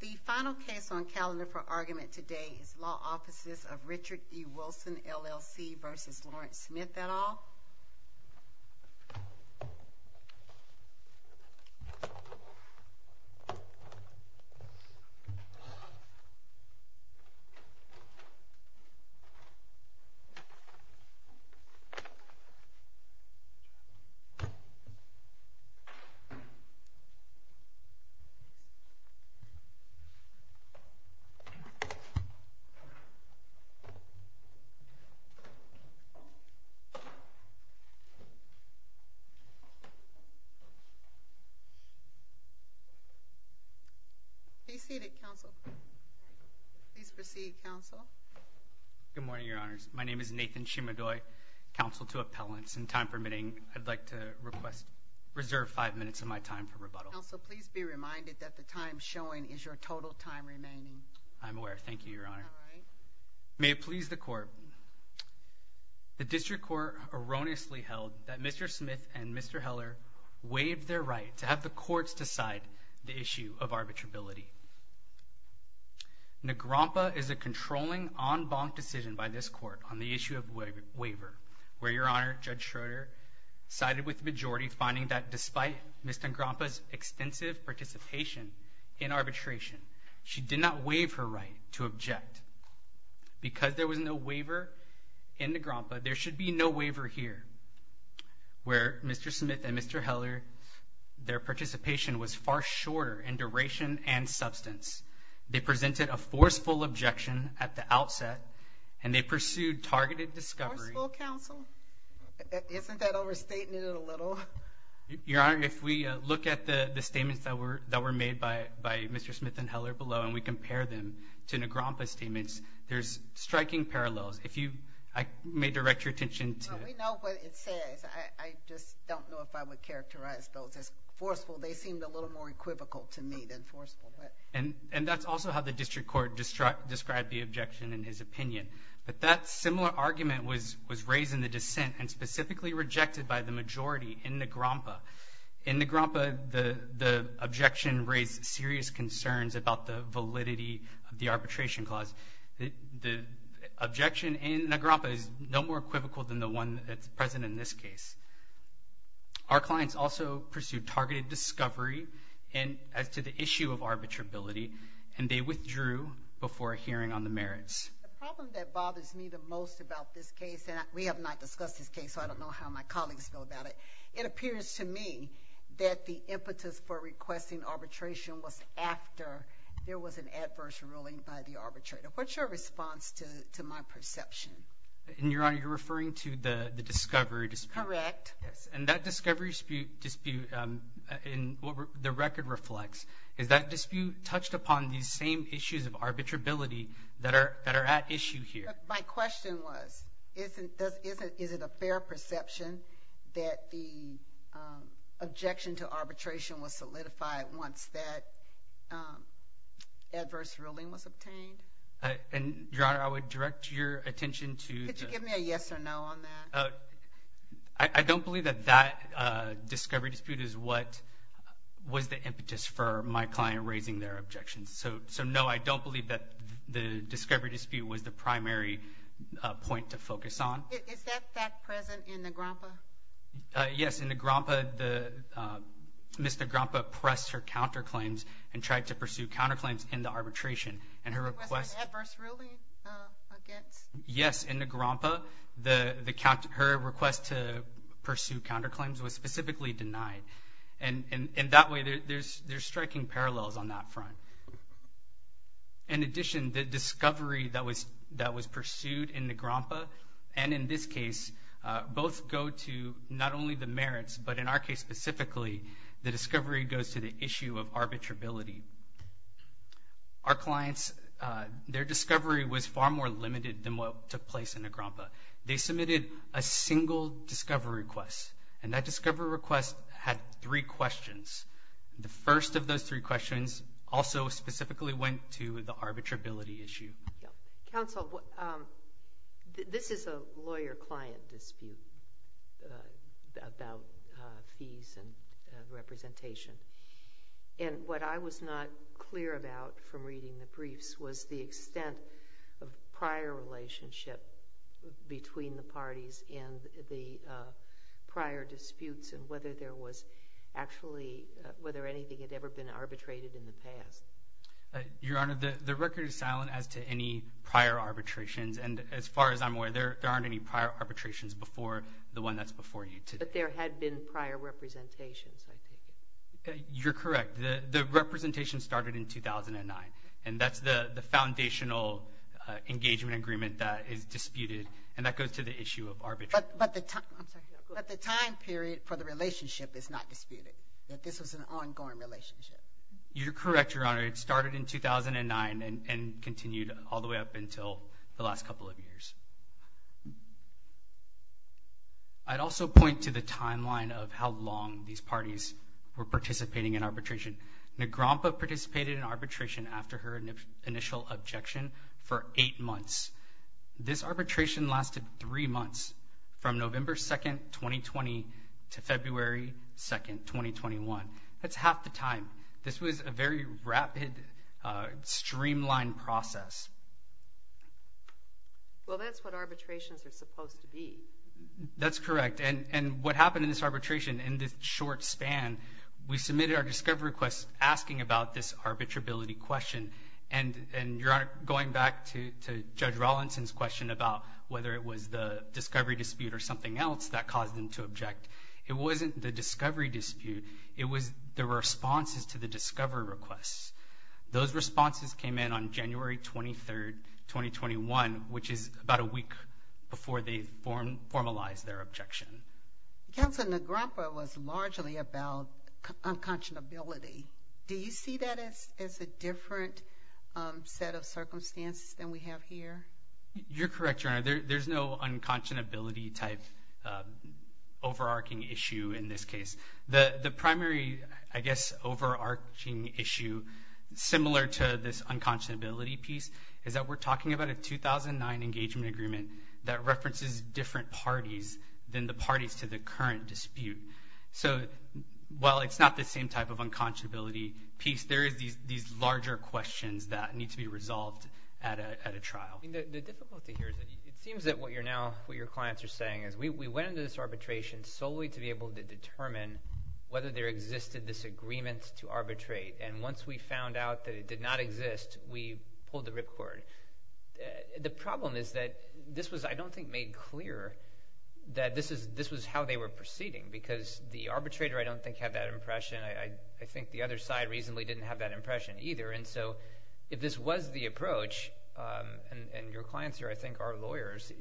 The final case on calendar for argument today is Law Offices of Richard E. Wilson, LLC v. Laurence Smith et al. Nathan Shimodoy Please be seated, Counsel. Please proceed, Counsel. Nathan Shimodoy Good morning, Your Honors. My name is Nathan Shimodoy, Counsel to Appellants. In time permitting, I'd like to reserve five minutes of my time for rebuttal. Counsel, please be reminded that the time showing is your total time remaining. Nathan Shimodoy I'm aware. Thank you, Your Honor. May it please the Court. The District Court erroneously held that Mr. Smith and Mr. Heller waived their right to have the courts decide the issue of arbitrability. Negrompa is a controlling, en banc decision by this Court on the issue of waiver, where Your Honor, Judge Schroeder sided with the majority, finding that despite Ms. Negrompa's extensive participation in arbitration, she did not waive her right to object. Because there was no waiver in Negrompa, there should be no waiver here, where Mr. Smith and Mr. Heller, their participation was far shorter in duration and substance. They presented a forceful objection at the outset, and they pursued targeted discovery. Forceful, Counsel? Isn't that overstating it a little? Your Honor, if we look at the statements that were made by Mr. Smith and Mr. Heller below, and we compare them to Negrompa's statements, there's striking parallels. I may direct your attention to... We know what it says. I just don't know if I would characterize those as forceful. They seemed a little more equivocal to me than forceful. And that's also how the District Court described the objection in his opinion. But that similar argument was raised in the dissent, and specifically rejected by the majority in Negrompa. In Negrompa, the objection raised serious concerns about the validity of the arbitration clause. The objection in Negrompa is no more equivocal than the one that's present in this case. Our clients also pursued targeted discovery as to the issue of arbitrability, and they withdrew before a hearing on the merits. The problem that bothers me the most about this case, and we have not discussed this case, so I don't know how my colleagues feel about it, it appears to me that the impetus for requesting arbitration was after there was an adverse ruling by the arbitrator. What's your response to my perception? Your Honor, you're referring to the discovery dispute? Correct. And that discovery dispute, in what the record reflects, is that dispute touched upon these same issues of arbitrability that are at issue here. My question was, is it a fair perception that the objection to arbitration was solidified once that adverse ruling was obtained? And, Your Honor, I would direct your attention to the— Could you give me a yes or no on that? I don't believe that that discovery dispute is what was the impetus for my client raising their objections. So, no, I don't believe that the discovery dispute was the primary point to focus on. Is that fact present in Negrompa? Yes, in Negrompa, Mr. Negrompa pressed her counterclaims and tried to pursue counterclaims in the arbitration. And her request— Was there an adverse ruling against— Yes, in Negrompa, her request to pursue counterclaims was specifically denied. And that way, there's striking parallels on that front. In addition, the discovery that was pursued in Negrompa and in this case both go to not only the merits, but in our case specifically, the discovery goes to the issue of arbitrability. Our clients, their discovery was far more limited than what took place in Negrompa. They submitted a single discovery request, and that discovery request had three questions. The first of those three questions also specifically went to the arbitrability issue. Counsel, this is a lawyer-client dispute about fees and representation. And what I was not clear about from reading the briefs was the extent of prior relationship between the parties and the prior disputes and whether there was actually—whether anything had ever been arbitrated in the past. Your Honor, the record is silent as to any prior arbitrations. And as far as I'm aware, there aren't any prior arbitrations before the one that's before you today. But there had been prior representations, I take it. You're correct. The representation started in 2009, and that's the foundational engagement agreement that is disputed, and that goes to the issue of arbitration. But the time period for the relationship is not disputed, that this was an ongoing relationship. You're correct, Your Honor. It started in 2009 and continued all the way up until the last couple of years. I'd also point to the timeline of how long these parties were participating in arbitration. Negrompa participated in arbitration after her initial objection for eight months. This arbitration lasted three months, from November 2, 2020, to February 2, 2021. That's half the time. This was a very rapid, streamlined process. Well, that's what arbitrations are supposed to be. That's correct. And what happened in this arbitration, in this short span, we submitted our discovery request asking about this arbitrability question. And Your Honor, going back to Judge Rawlinson's question about whether it was the discovery dispute or something else that caused them to object, it wasn't the discovery dispute. It was the responses to the discovery requests. Those responses came in on January 23, 2021, which is about a week before they formalized their objection. Counsel, Negrompa was largely about unconscionability. Do you see that as a different set of circumstances than we have here? You're correct, Your Honor. There's no unconscionability-type overarching issue in this case. The primary, I guess, overarching issue, similar to this unconscionability piece, is that we're talking about a 2009 engagement agreement that references different parties than the parties to the current dispute. So while it's not the same type of unconscionability piece, there is these larger questions that need to be resolved at a trial. The difficulty here is that it seems that what your clients are saying is we went into this arbitration solely to be able to determine whether there existed this agreement to arbitrate, and once we found out that it did not exist, we pulled the ripcord. The problem is that this was, I don't think, made clear that this was how they were proceeding because the arbitrator, I don't think, had that impression. I think the other side reasonably didn't have that impression either. So if this was the approach, and your clients are, I think, our lawyers,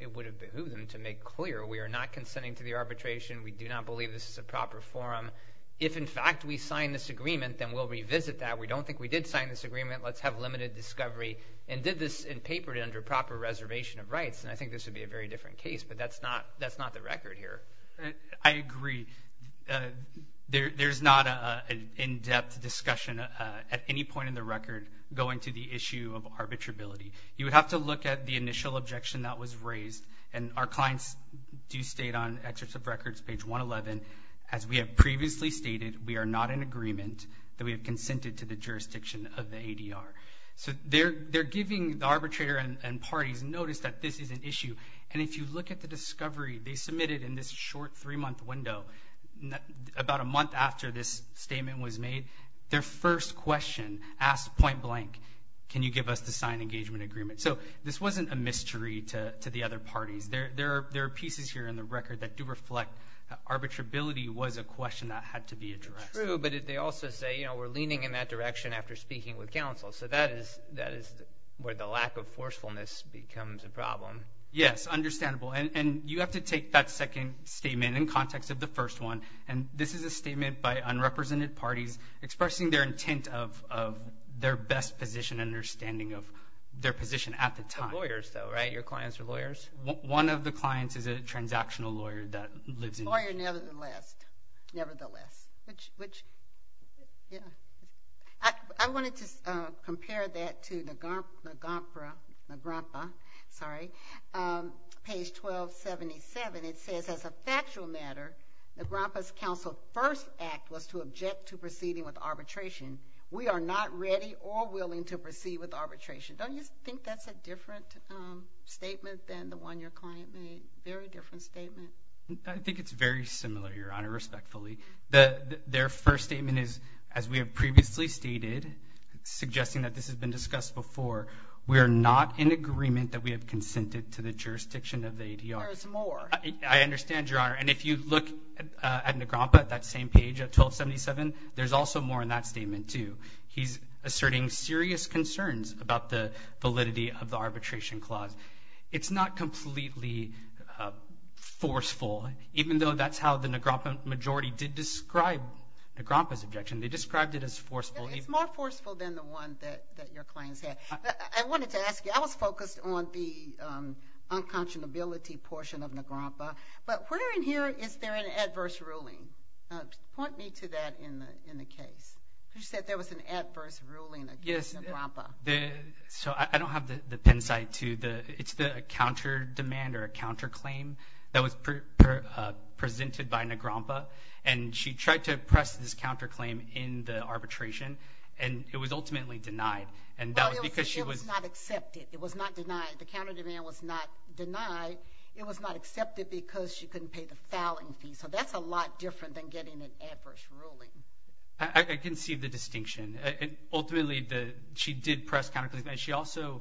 it would have behooved them to make clear we are not consenting to the arbitration, we do not believe this is a proper forum. If, in fact, we sign this agreement, then we'll revisit that. We don't think we did sign this agreement. Let's have limited discovery and did this in paper under proper reservation of rights, and I think this would be a very different case, but that's not the record here. I agree. There's not an in-depth discussion at any point in the record going to the issue of arbitrability. You would have to look at the initial objection that was raised, and our clients do state on excerpts of records, page 111, as we have previously stated, we are not in agreement that we have consented to the jurisdiction of the ADR. So they're giving the arbitrator and parties notice that this is an issue, and if you look at the discovery they submitted in this short three-month window, about a month after this statement was made, their first question asked point blank, can you give us the signed engagement agreement? So this wasn't a mystery to the other parties. There are pieces here in the record that do reflect arbitrability was a question that had to be addressed. True, but they also say, you know, we're leaning in that direction after speaking with counsel. So that is where the lack of forcefulness becomes a problem. Yes, understandable, and you have to take that second statement in context of the first one, and this is a statement by unrepresented parties expressing their intent of their best position and understanding of their position at the time. Lawyers though, right? Your clients are lawyers? One of the clients is a transactional lawyer that lives in New York. Lawyer nevertheless. Nevertheless. Which, yeah. I wanted to compare that to the NAGRAMPA, sorry, page 1277. It says, as a factual matter, NAGRAMPA's counsel first act was to object to proceeding with arbitration. We are not ready or willing to proceed with arbitration. Don't you think that's a different statement than the one your client made? Very different statement. I think it's very similar, Your Honor, respectfully. Their first statement is, as we have previously stated, suggesting that this has been discussed before, we are not in agreement that we have consented to the jurisdiction of the ADR. There is more. I understand, Your Honor. And if you look at NAGRAMPA, that same page at 1277, there's also more in that statement too. He's asserting serious concerns about the validity of the arbitration clause. It's not completely forceful, even though that's how the NAGRAMPA majority did describe NAGRAMPA's objection. They described it as forceful. It's more forceful than the one that your clients had. I wanted to ask you, I was focused on the unconscionability portion of NAGRAMPA, but where in here is there an adverse ruling? Point me to that in the case. You said there was an adverse ruling against NAGRAMPA. So I don't have the pencil side to it. It's the counter demand or a counterclaim that was presented by NAGRAMPA, and she tried to press this counterclaim in the arbitration, and it was ultimately denied. Well, it was not accepted. It was not denied. The counter demand was not denied. It was not accepted because she couldn't pay the fouling fee. So that's a lot different than getting an adverse ruling. I can see the distinction. Ultimately, she did press counterclaim, and she also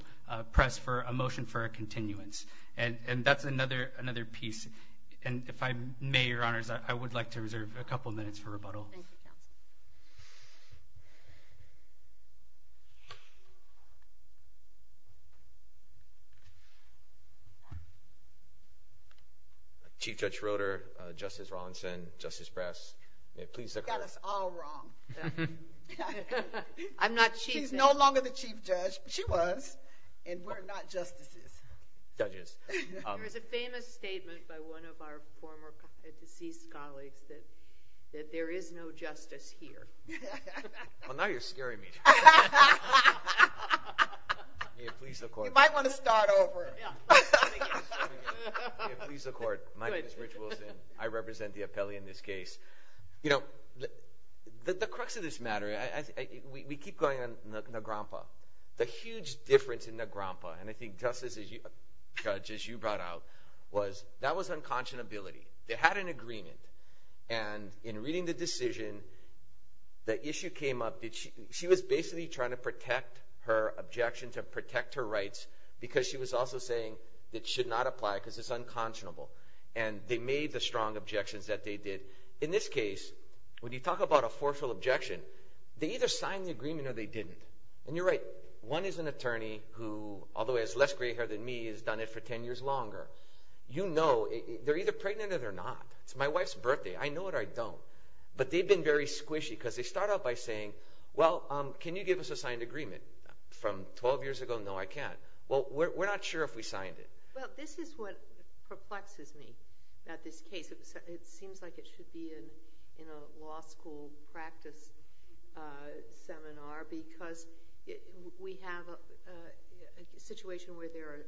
pressed for a motion for a continuance. And that's another piece. And if I may, Your Honors, I would like to reserve a couple minutes for rebuttal. Thank you, counsel. Chief Judge Schroeder, Justice Rawlinson, Justice Brass, may it please the court. You got us all wrong. I'm not cheating. She's no longer the chief judge. She was, and we're not justices. There is a famous statement by one of our former deceased colleagues that there is no justice here. Well, now you're scaring me. May it please the court. You might want to start over. May it please the court. My name is Rich Wilson. I represent the appellee in this case. You know, the crux of this matter, we keep going on Nagrampa. The huge difference in Nagrampa, and I think, Justice, as you brought out, was that was unconscionability. They had an agreement. And in reading the decision, the issue came up that she was basically trying to protect her objection to protect her rights because she was also saying it should not apply because it's unconscionable. And they made the strong objections that they did. In this case, when you talk about a forceful objection, they either signed the agreement or they didn't. And you're right. One is an attorney who, although he has less gray hair than me, has done it for 10 years longer. You know, they're either pregnant or they're not. It's my wife's birthday. I know it or I don't. But they've been very squishy because they start out by saying, well, can you give us a signed agreement from 12 years ago? No, I can't. Well, we're not sure if we signed it. Well, this is what perplexes me about this case. It seems like it should be in a law school practice seminar because we have a situation where there are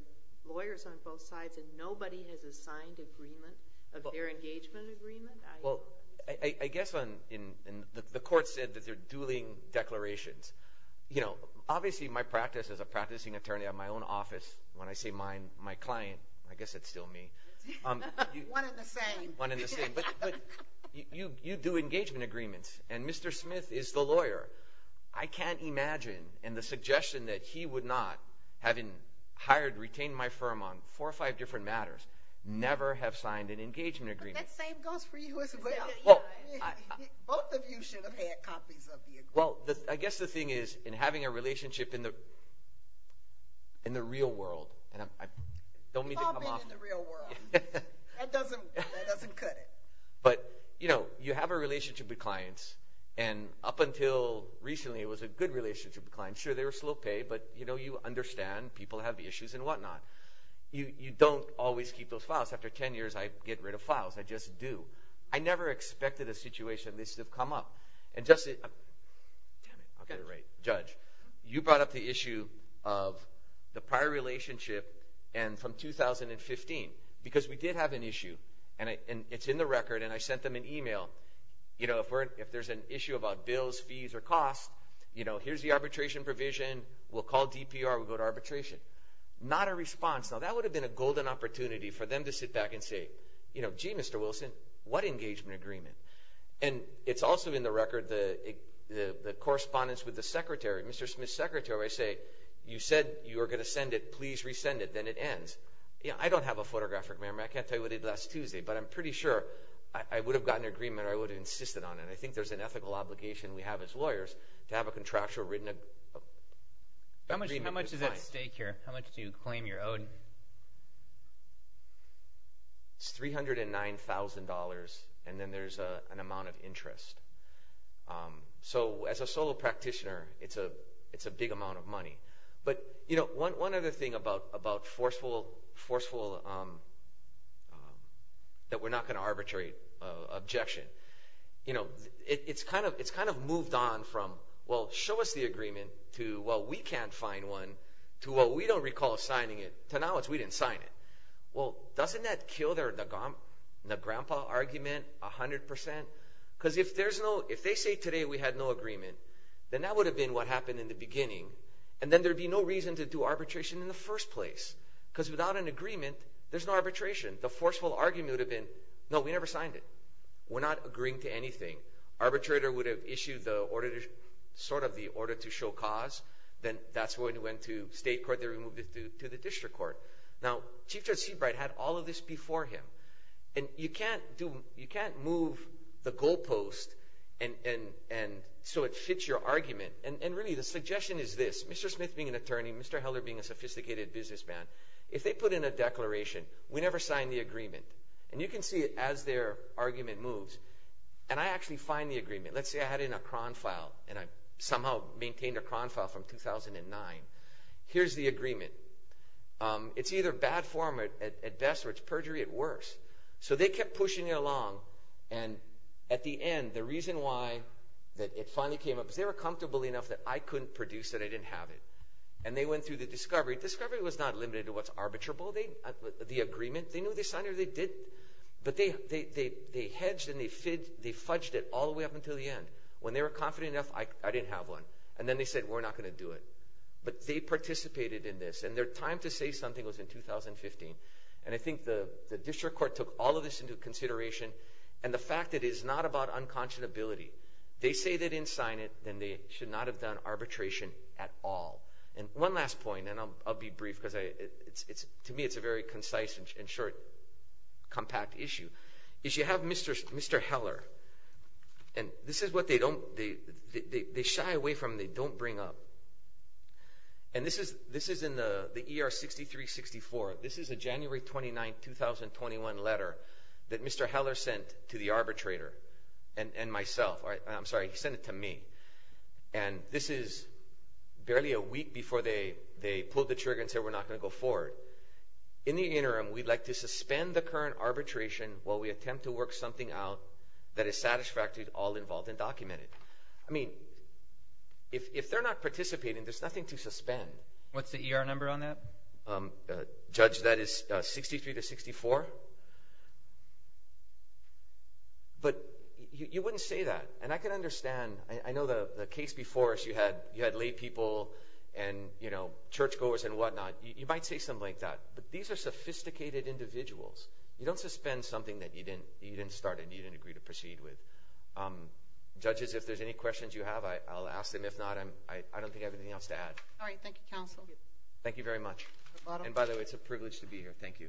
lawyers on both sides and nobody has a signed agreement of their engagement agreement. Well, I guess the court said that they're dueling declarations. You know, obviously my practice as a practicing attorney at my own office, when I say mine, my client, I guess it's still me. One and the same. One and the same. But you do engagement agreements. And Mr. Smith is the lawyer. I can't imagine, and the suggestion that he would not, having hired, retained my firm on four or five different matters, never have signed an engagement agreement. But that same goes for you as well. Both of you should have had copies of the agreement. Well, I guess the thing is, in having a relationship in the real world, and I don't mean to come off – You've all been in the real world. That doesn't cut it. But you have a relationship with clients, and up until recently it was a good relationship with clients. Sure, they were slow pay, but you understand people have issues and whatnot. You don't always keep those files. After 10 years, I get rid of files. I just do. I never expected a situation like this to come up. And just – Damn it. I'll get it right. Judge, you brought up the issue of the prior relationship and from 2015. Because we did have an issue, and it's in the record, and I sent them an email. If there's an issue about bills, fees, or costs, here's the arbitration provision. We'll call DPR. We'll go to arbitration. Not a response. Now, that would have been a golden opportunity for them to sit back and say, gee, Mr. Wilson, what engagement agreement? And it's also in the record, the correspondence with the secretary, Mr. Smith's secretary, where I say, you said you were going to send it. Please resend it. Then it ends. I don't have a photographic memory. I can't tell you what I did last Tuesday. But I'm pretty sure I would have gotten an agreement or I would have insisted on it. I think there's an ethical obligation we have as lawyers to have a contractual written agreement. How much is at stake here? How much do you claim you're owed? It's $309,000, and then there's an amount of interest. So as a solo practitioner, it's a big amount of money. One other thing about forceful, that we're not going to arbitrate, objection. It's kind of moved on from, well, show us the agreement, to, well, we can't find one, to, well, we don't recall signing it, to now it's we didn't sign it. Well, doesn't that kill the grandpa argument 100 percent? Because if they say today we had no agreement, then that would have been what happened in the beginning. And then there would be no reason to do arbitration in the first place. Because without an agreement, there's no arbitration. The forceful argument would have been, no, we never signed it. We're not agreeing to anything. Arbitrator would have issued sort of the order to show cause. Then that's what went to state court. They removed it to the district court. Now, Chief Judge Seabright had all of this before him. And you can't move the goalpost so it fits your argument. And really the suggestion is this. Mr. Smith being an attorney, Mr. Heller being a sophisticated businessman, if they put in a declaration, we never signed the agreement. And you can see it as their argument moves. And I actually find the agreement. Let's say I had it in a Cron file and I somehow maintained a Cron file from 2009. Here's the agreement. It's either bad form at best or it's perjury at worst. So they kept pushing it along. And at the end, the reason why it finally came up is they were comfortable enough that I couldn't produce it, I didn't have it. And they went through the discovery. Discovery was not limited to what's arbitrable, the agreement. They knew they signed it or they didn't. But they hedged and they fudged it all the way up until the end. When they were confident enough, I didn't have one. And then they said, we're not going to do it. But they participated in this. And their time to say something was in 2015. And I think the district court took all of this into consideration. And the fact that it is not about unconscionability. They say they didn't sign it, then they should not have done arbitration at all. And one last point, and I'll be brief because to me it's a very concise and short, compact issue. You have Mr. Heller. And this is what they don't – they shy away from and they don't bring up. And this is in the ER 6364. This is a January 29, 2021 letter that Mr. Heller sent to the arbitrator and myself. I'm sorry, he sent it to me. And this is barely a week before they pulled the trigger and said we're not going to go forward. In the interim, we'd like to suspend the current arbitration while we attempt to work something out that is satisfactory to all involved and documented. I mean, if they're not participating, there's nothing to suspend. What's the ER number on that? Judge, that is 63 to 64. But you wouldn't say that. And I can understand. I know the case before, you had laypeople and churchgoers and whatnot. You might say something like that. But these are sophisticated individuals. You don't suspend something that you didn't start and you didn't agree to proceed with. Judges, if there's any questions you have, I'll ask them. If not, I don't think I have anything else to add. All right. Thank you, counsel. Thank you very much. And by the way, it's a privilege to be here. Thank you.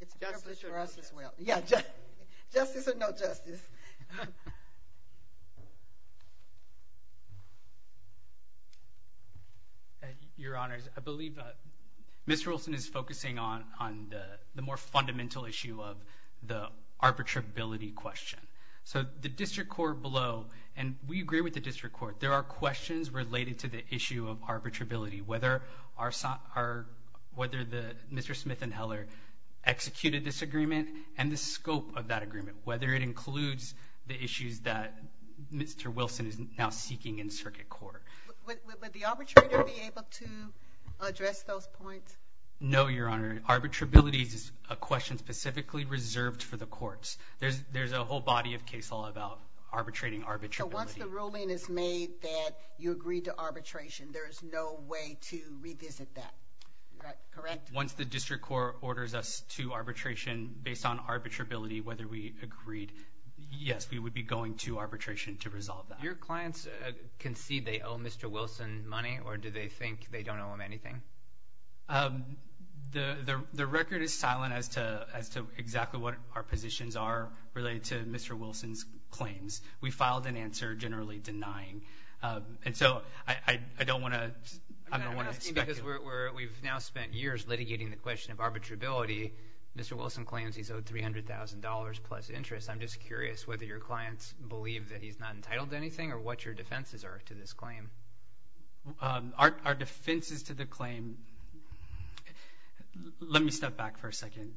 It's a privilege for us as well. Justice or no justice. Yeah, justice or no justice. Mr. Smith. Your Honors, I believe Ms. Wilson is focusing on the more fundamental issue of the arbitrability question. So the district court below, and we agree with the district court, there are questions related to the issue of arbitrability, whether Mr. Smith and Heller executed this agreement and the scope of that agreement, whether it includes the issues that Mr. Wilson is now seeking in circuit court. Would the arbitrator be able to address those points? No, Your Honor. Arbitrability is a question specifically reserved for the courts. There's a whole body of case law about arbitrating arbitrability. So once the ruling is made that you agreed to arbitration, there is no way to revisit that, correct? Once the district court orders us to arbitration based on arbitrability, whether we agreed, yes, we would be going to arbitration to resolve that. Your clients concede they owe Mr. Wilson money, or do they think they don't owe him anything? The record is silent as to exactly what our positions are related to Mr. Wilson's claims. We filed an answer generally denying. And so I don't want to speculate. We've now spent years litigating the question of arbitrability. Mr. Wilson claims he's owed $300,000 plus interest. I'm just curious whether your clients believe that he's not entitled to anything or what your defenses are to this claim. Our defenses to the claim, let me step back for a second.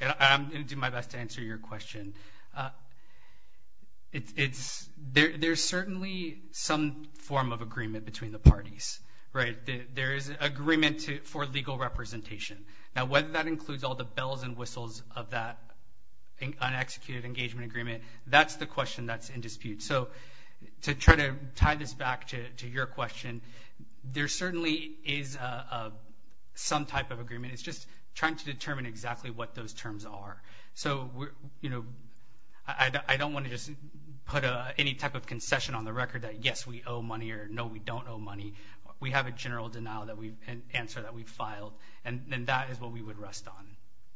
I'm going to do my best to answer your question. There's certainly some form of agreement between the parties, right? There is agreement for legal representation. Now, whether that includes all the bells and whistles of that un-executed engagement agreement, that's the question that's in dispute. So to try to tie this back to your question, there certainly is some type of agreement. It's just trying to determine exactly what those terms are. So, you know, I don't want to just put any type of concession on the record that, yes, we owe money or, no, we don't owe money. We have a general denial and answer that we've filed, and that is what we would rest on.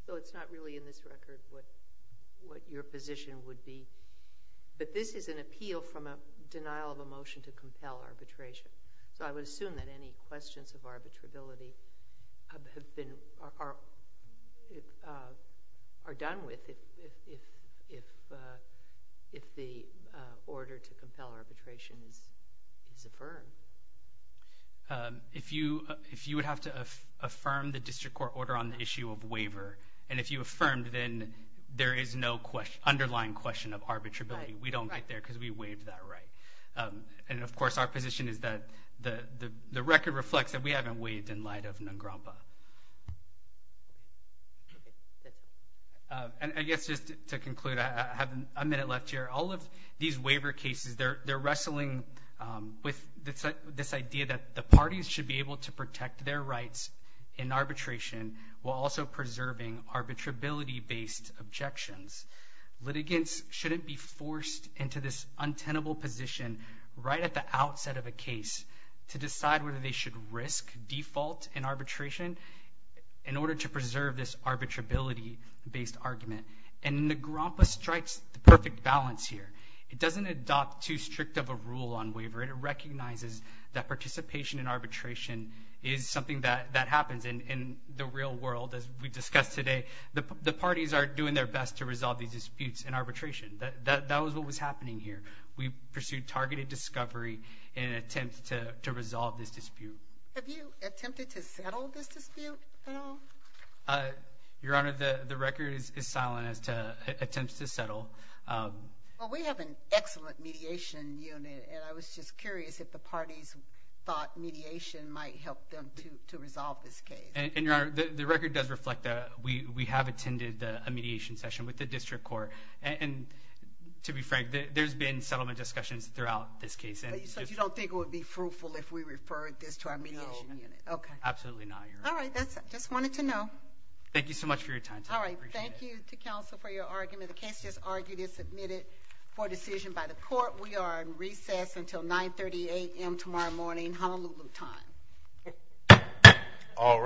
So it's not really in this record what your position would be. But this is an appeal from a denial of a motion to compel arbitration. So I would assume that any questions of arbitrability are done with if the order to compel arbitration is affirmed. If you would have to affirm the district court order on the issue of waiver, and if you affirmed, then there is no underlying question of arbitrability. We don't get there because we waived that right. And, of course, our position is that the record reflects that we haven't waived in light of NGRAMPA. And I guess just to conclude, I have a minute left here. All of these waiver cases, they're wrestling with this idea that the parties should be able to protect their rights in arbitration while also preserving arbitrability-based objections. Litigants shouldn't be forced into this untenable position right at the outset of a case to decide whether they should risk default in arbitration in order to preserve this arbitrability-based argument. And NGRAMPA strikes the perfect balance here. It doesn't adopt too strict of a rule on waiver. It recognizes that participation in arbitration is something that happens. And in the real world, as we discussed today, the parties are doing their best to resolve these disputes in arbitration. That was what was happening here. We pursued targeted discovery in an attempt to resolve this dispute. Have you attempted to settle this dispute at all? Your Honor, the record is silent as to attempts to settle. Well, we have an excellent mediation unit. And I was just curious if the parties thought mediation might help them to resolve this case. And, Your Honor, the record does reflect that. We have attended a mediation session with the district court. And to be frank, there's been settlement discussions throughout this case. So you don't think it would be fruitful if we referred this to our mediation unit? No. Okay. Absolutely not, Your Honor. All right. I just wanted to know. Thank you so much for your time today. I appreciate it. Thank you to counsel for your argument. The case is argued and submitted for decision by the court. We are in recess until 9.30 a.m. tomorrow morning, Honolulu time. All rise.